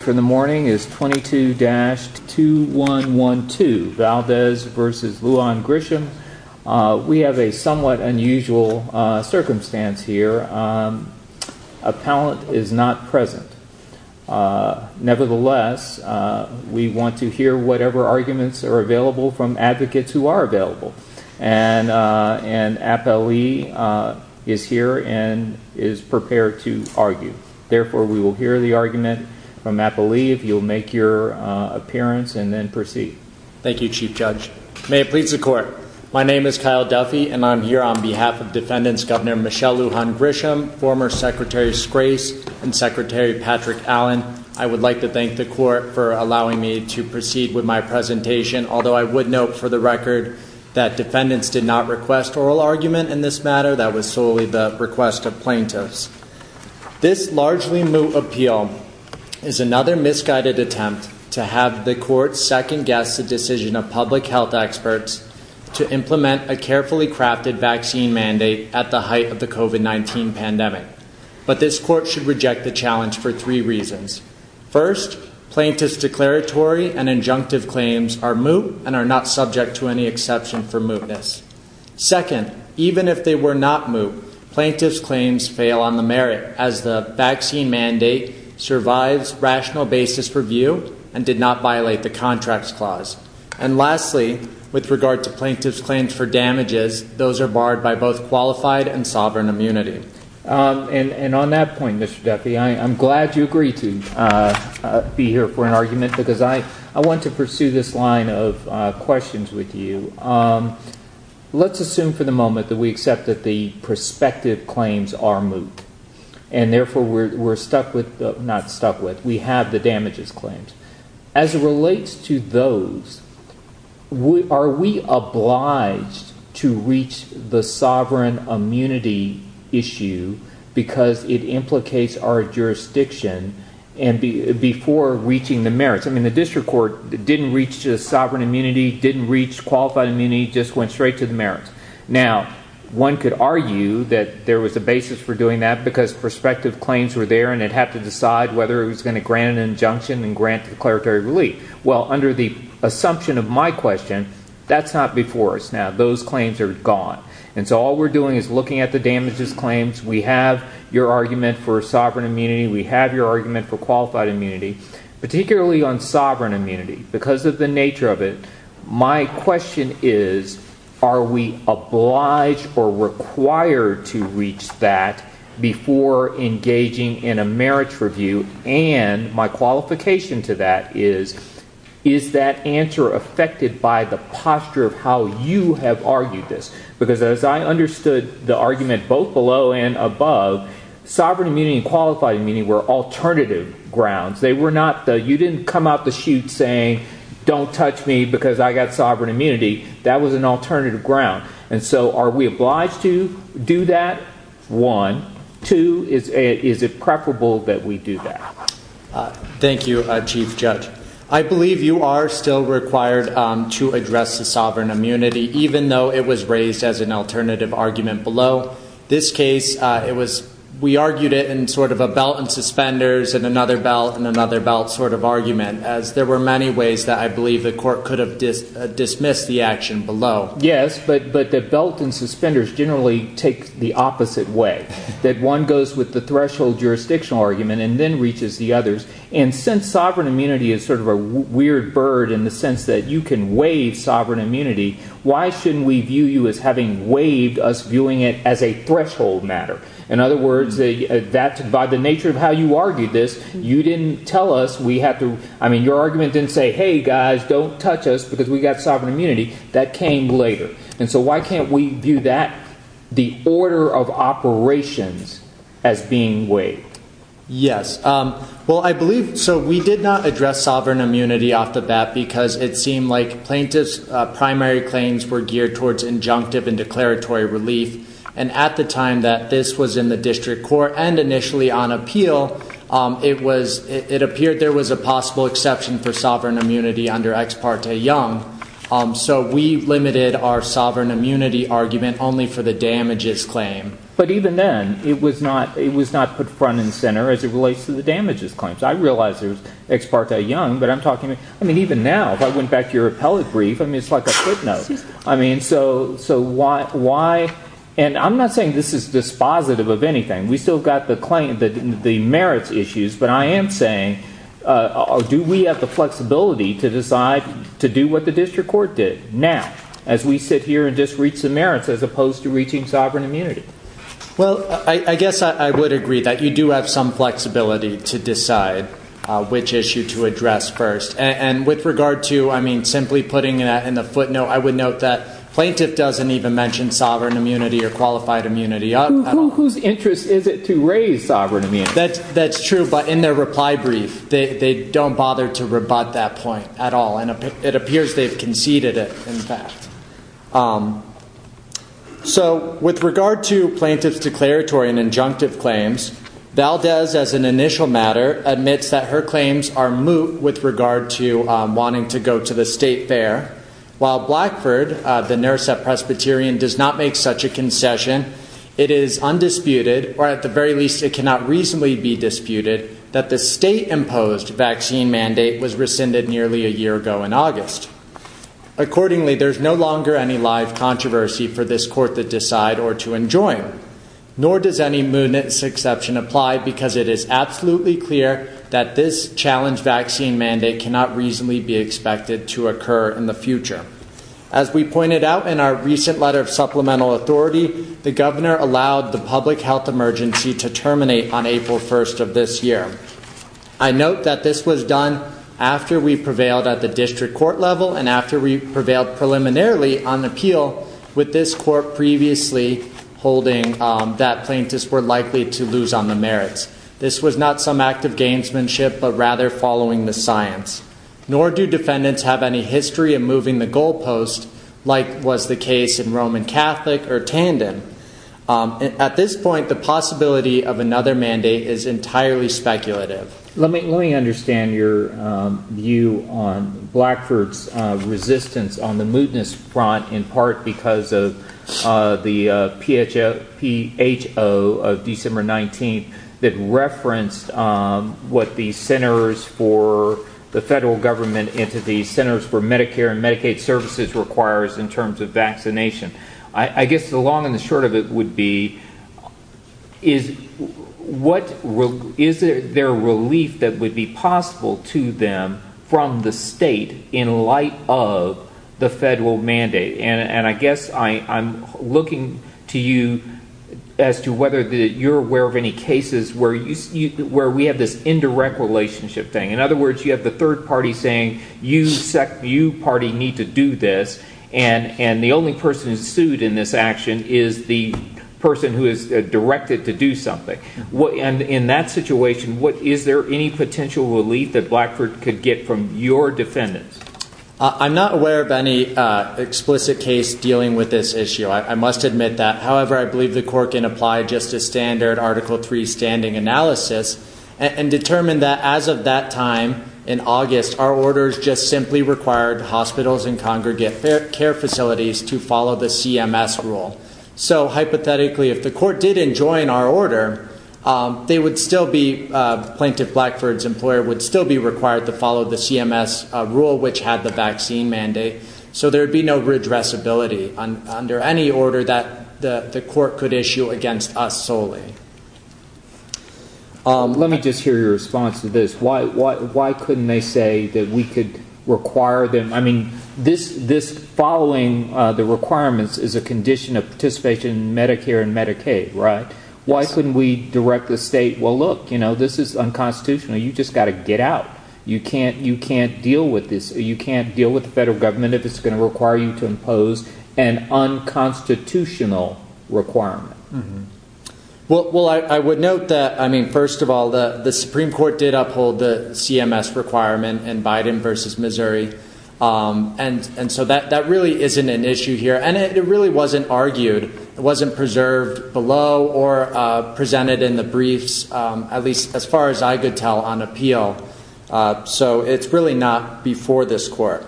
For the morning is 22-2112, Valdez v. Lujan Grisham. We have a somewhat unusual circumstance here. Appellant is not present. Nevertheless, we want to hear whatever arguments are available from advocates who are available. And Appellee is here and is prepared to argue. Therefore we will hear the argument from Appellee if you'll make your appearance and then proceed. Thank you, Chief Judge. May it please the Court. My name is Kyle Duffy and I'm here on behalf of Defendants Governor Michelle Lujan Grisham, former Secretary Scrace and Secretary Patrick Allen. I would like to thank the Court for allowing me to proceed with my presentation, although I would note for the record that Defendants did not request a plaintiff's. This largely moot appeal is another misguided attempt to have the Court second guess the decision of public health experts to implement a carefully crafted vaccine mandate at the height of the COVID-19 pandemic. But this Court should reject the challenge for three reasons. First, plaintiff's declaratory and injunctive claims are moot and are not claims fail on the merit, as the vaccine mandate survives rational basis review and did not violate the contracts clause. And lastly, with regard to plaintiff's claims for damages, those are barred by both qualified and sovereign immunity. And on that point, Mr. Duffy, I'm glad you agreed to be here for an argument because I want to pursue this line of questions with you. Let's assume for the moment that we accept that the prospective claims are moot and therefore we're stuck with, not stuck with, we have the damages claims. As it relates to those, are we obliged to reach the sovereign immunity issue because it implicates our jurisdiction and before reaching the merits? I mean, the District Court didn't reach the sovereign immunity, didn't reach qualified immunity, just went straight to the merits. Now, one could argue that there was a basis for doing that because prospective claims were there and it had to decide whether it was going to grant an injunction and grant declaratory relief. Well, under the assumption of my question, that's not before us now. Those claims are gone. And so all we're doing is looking at the damages claims. We have your argument for sovereign immunity. We have your argument for qualified immunity. Because of the nature of it, my question is, are we obliged or required to reach that before engaging in a merits review? And my qualification to that is, is that answer affected by the posture of how you have argued this? Because as I understood the argument both below and above, sovereign immunity and qualified immunity were alternative grounds. They were not the, you didn't come out the chute saying, don't touch me because I got sovereign immunity. That was an alternative ground. And so are we obliged to do that? One. Two, is it preferable that we do that? Thank you, Chief Judge. I believe you are still required to address the sovereign immunity, even though it was raised as an alternative argument below. This case, it was, we argued it in sort of a belt and suspenders and another belt and another belt sort of argument, as there were many ways that I believe the court could have dismissed the action below. Yes, but, but the belt and suspenders generally take the opposite way. That one goes with the threshold jurisdictional argument and then reaches the others. And since sovereign immunity is sort of a weird bird in the sense that you can waive sovereign immunity, why shouldn't we view you as having waived us viewing it as a threshold matter? In other words, that by the nature of how you argued this, you didn't tell us we have to, I mean, your argument didn't say, Hey guys, don't touch us because we got sovereign immunity that came later. And so why can't we view that the order of operations as being way? Yes. Well, I believe so. We did not address sovereign immunity off the bat because it seemed like plaintiff's primary claims were geared towards injunctive and declaratory relief. And at the time that this was in the case, it was, it appeared there was a possible exception for sovereign immunity under ex parte young. So we've limited our sovereign immunity argument only for the damages claim. But even then it was not, it was not put front and center as it relates to the damages claims. I realized there was ex parte young, but I'm talking to, I mean, even now, if I went back to your appellate brief, I mean, it's like a footnote. I mean, so, so why, why, and I'm not saying this is dispositive of anything. We still got the claim that the merits issues, but I am saying, uh, do we have the flexibility to decide to do what the district court did now as we sit here and just reach the merits as opposed to reaching sovereign immunity? Well, I guess I would agree that you do have some flexibility to decide which issue to address first. And with regard to, I mean, simply putting it in the footnote, I would note that plaintiff doesn't even mention sovereign immunity or qualified immunity. Whose interest is it to raise sovereign? I mean, that's, that's true. But in their reply brief, they don't bother to rebut that point at all. And it appears they've conceded it in fact. Um, so with regard to plaintiff's declaratory and injunctive claims, Val does as an initial matter admits that her claims are moot with regard to, um, wanting to go to the state fair while Blackford, uh, the nurse at Presbyterian does not make such a concession. It is undisputed, or at the very least it cannot reasonably be disputed that the state imposed vaccine mandate was rescinded nearly a year ago in August. Accordingly, there's no longer any live controversy for this court that decide or to enjoy, nor does any moon exception apply because it is absolutely clear that this challenge vaccine mandate cannot reasonably be expected to occur in the future. As we pointed out in our recent letter of supplemental authority, the governor allowed the public health emergency to terminate on April 1st of this year. I note that this was done after we prevailed at the district court level and after we prevailed preliminarily on appeal with this court previously holding, um, that plaintiffs were likely to lose on the merits. This was not some act of gamesmanship, but rather following the science. Nor do defendants have any history of moving the goalpost like was the case in Roman Catholic or tandem. Um, at this point, the possibility of another mandate is entirely speculative. Let me, let me understand your, um, view on Blackford's, uh, resistance on the mootness front in part because of, uh, the, uh, PHF, P H O of December 19th that referenced, um, what the centers for the federal government into the centers for Medicare and Medicaid services requires in terms of vaccination. I guess the long and the short of it would be is what is there relief that would be possible to them from the state in light of the federal mandate? And I guess I'm looking to you as to whether that you're aware of any cases where you, where we have this indirect relationship thing. In other words, you have the third party saying you sec view party need to do this. And, and the only person who's sued in this action is the person who is directed to do something. What? And in that situation, what is there any potential relief that Blackford could get from your defendants? I'm not aware of any, uh, explicit case dealing with this issue. I must admit that. However, I believe the court can apply just a standard article three standing analysis and determine that as of that time in August, our orders just simply required hospitals and congregate care facilities to follow the CMS rule. So hypothetically, if the court didn't join our order, um, they would still be, uh, plaintiff Blackford's employer would still be required to follow the CMS rule, which had the vaccine mandate. So there'd be no redress ability on under any order that the court could issue against us solely. Um, let me just hear your response to this. Why, why, why couldn't they say that we could require them? I mean, this, this following, uh, the requirements is a condition of participation in Medicare and Medicaid, right? Why couldn't we direct the state? Well, look, you know, this is unconstitutional. You just got to get out. You can't, you can't deal with this. You can't deal with the federal government if it's going to require you to impose an unconstitutional requirement. Well, I would note that, I mean, first of all, the, the Supreme court did uphold the CMS requirement and Biden versus Missouri. Um, and, and so that, that really isn't an issue here. And it really wasn't argued. It wasn't preserved below or, uh, presented in the briefs. Um, at least as far as I could tell on appeal. Uh, so it's really not before this court.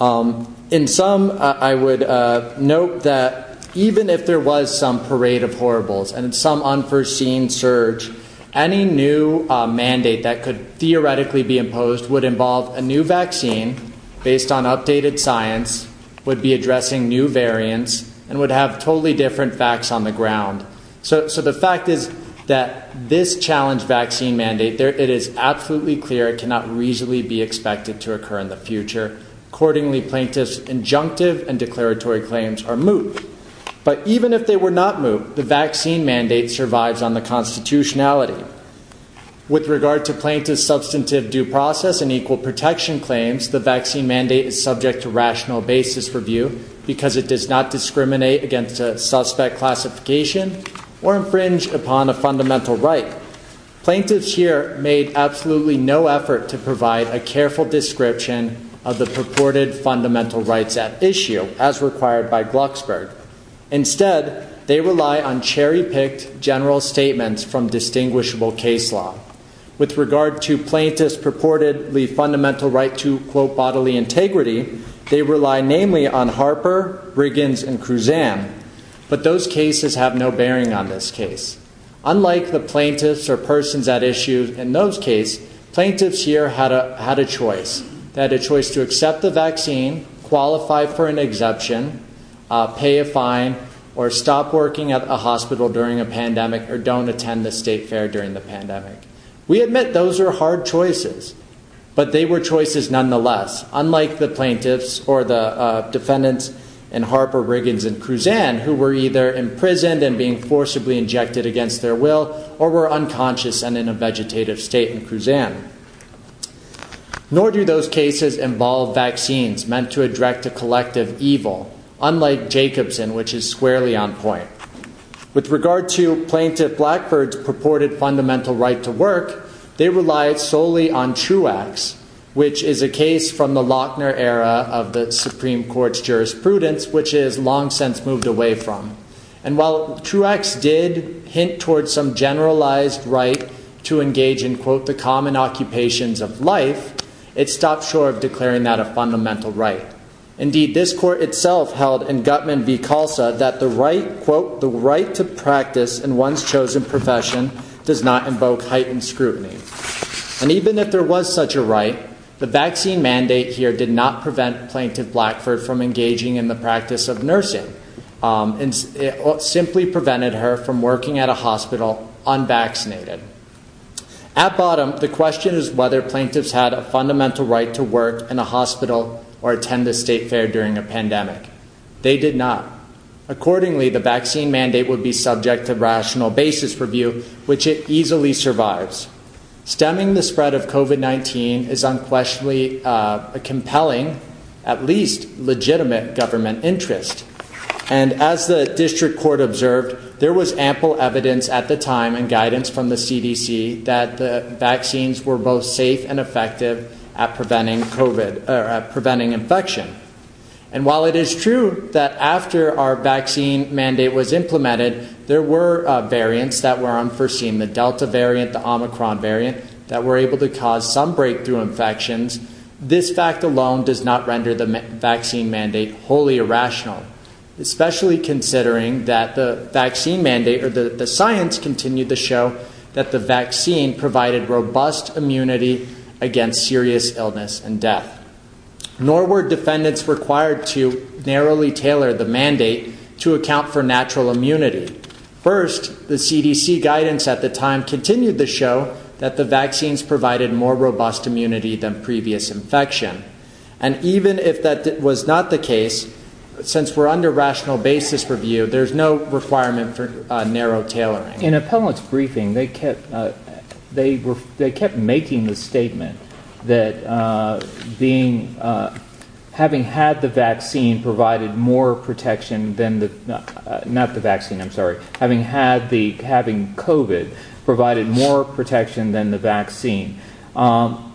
Um, in some, uh, I would, uh, note that even if there was some parade of horribles and some unforeseen surge, any new mandate that could theoretically be imposed would involve a new vaccine based on updated science would be addressing new variants and would have totally different facts on the ground. So, so the fact is that this challenge vaccine mandate there, it is absolutely clear. It cannot reasonably be expected to occur in the future. Accordingly plaintiff's injunctive and declaratory claims are moot. But even if they were not moved, the vaccine mandate survives on the constitutionality with regard to plaintiff's substantive due process and equal protection claims. The vaccine mandate is subject to rational basis for view because it does not discriminate against suspect classification or infringe upon a fundamental right. Plaintiff's here made absolutely no effort to provide a careful description of the purported fundamental rights at issue as required by Glucksberg. Instead, they rely on cherry picked general statements from distinguishable case law with regard to plaintiff's purportedly fundamental right to quote bodily integrity. They rely namely on Harper, Briggins and Kruzan, but those cases have no bearing on this case. Unlike the plaintiffs or persons at issue in those case plaintiffs here had a, had a choice that a choice to accept the vaccine, qualify for an exemption, pay a fine, or stop working at a hospital during a pandemic, or don't attend the state fair during the pandemic. We admit those are hard choices, but they were choices nonetheless, unlike the plaintiffs or the defendants and Harper, Briggins and Kruzan who were either imprisoned and being forcibly injected against their will, or were unconscious and in a vegetative state and Kruzan. Nor do those cases involve vaccines meant to address a collective evil, unlike Jacobson, which is squarely on point. With regard to plaintiff Blackford's purported fundamental right to work, they relied solely on Truex, which is a case from the Lochner era of the Supreme court's jurisprudence, which is long since moved away from. And while Truex did hint towards some generalized right to engage in quote, the common occupations of life, it stopped short of declaring that a fundamental right. Indeed, this court itself held and Gutman that the right quote, the right to practice and one's chosen profession does not invoke heightened scrutiny. And even if there was such a right, the vaccine mandate here did not prevent plaintiff Blackford from engaging in the practice of nursing. Um, and it simply prevented her from working at a hospital on vaccinated at bottom. The question is whether plaintiffs had a fundamental right to work in a hospital or attend the state fair during a pandemic. They did not. Accordingly, the vaccine mandate would be subject to rational basis review, which it easily survives stemming the spread of COVID-19 is unquestionably a compelling, at least legitimate government interest. And as the district court observed, there was ample evidence at the time and guidance from the CDC that the vaccines were both safe and effective at preventing COVID or preventing infection. And while it is true that after our vaccine mandate was implemented, there were variants that were unforeseen, the Delta variant, the Omicron variant that were able to cause some breakthrough infections. This fact alone does not render the vaccine mandate wholly irrational, especially considering that the vaccine mandate or the science continued to show that the vaccine provided robust immunity against serious illness and death. Nor were defendants required to narrowly tailor the mandate to account for natural immunity. First, the CDC guidance at the time continued to show that the vaccines provided more robust immunity than previous infection. And even if that was not the case, since we're under rational basis review, there's no requirement for a narrow tailoring. In a public briefing, they kept, uh, they were, they kept making the statement that, uh, being, uh, having had the vaccine provided more protection than the, uh, not the vaccine. I'm sorry. Having had the, having COVID provided more protection than the vaccine. Um,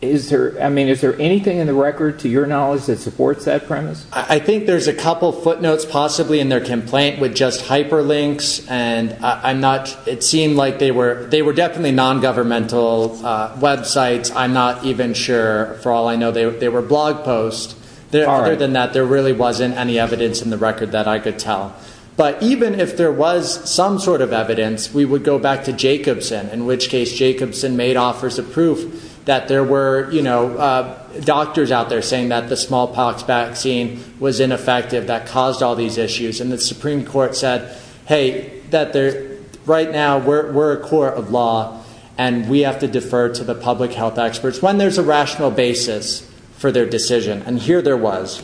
is there, I mean, is there anything in the record to your knowledge that supports that premise? I think there's a couple of footnotes possibly in their complaint with just hyperlinks and I'm not, it seemed like they were, they were definitely non-governmental, uh, websites. I'm not even sure for all I know they were, they were blog posts. Other than that, there really wasn't any evidence in the record that I could tell. But even if there was some sort of evidence, we would go back to Jacobson, in which case Jacobson made offers of proof that there were, you know, uh, doctors out there saying that the smallpox vaccine was ineffective, that caused all these issues. And the Supreme court said, Hey, that there right now we're, we're a court of law and we have to defer to the public health experts when there's a rational basis for their decision. And here there was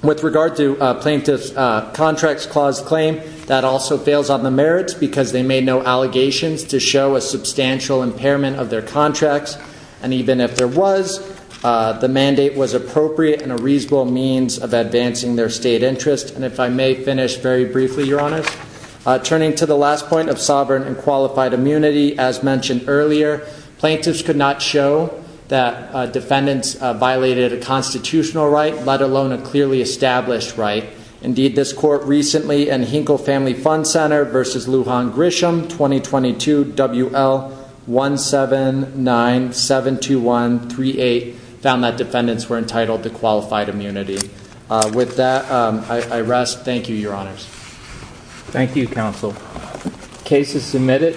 with regard to a plaintiff's, uh, contracts clause claim that also fails on the merits because they made no allegations to show a substantial impairment of their contracts. And even if there was, uh, the mandate was appropriate and a reasonable means of advancing their state interest. And if I may finish very briefly, your honors, uh, turning to the last point of sovereign and qualified immunity, as mentioned earlier, plaintiffs could not show that, uh, defendants violated a constitutional right, let alone a clearly established right. Indeed, this court recently and Hinkle family fund center versus Lujan Grisham, 2022 WL one seven nine seven two one three eight found that defendants were entitled to qualified immunity. Uh, with that, um, I, I rest. Thank you, your honors. Thank you. Counsel cases submitted.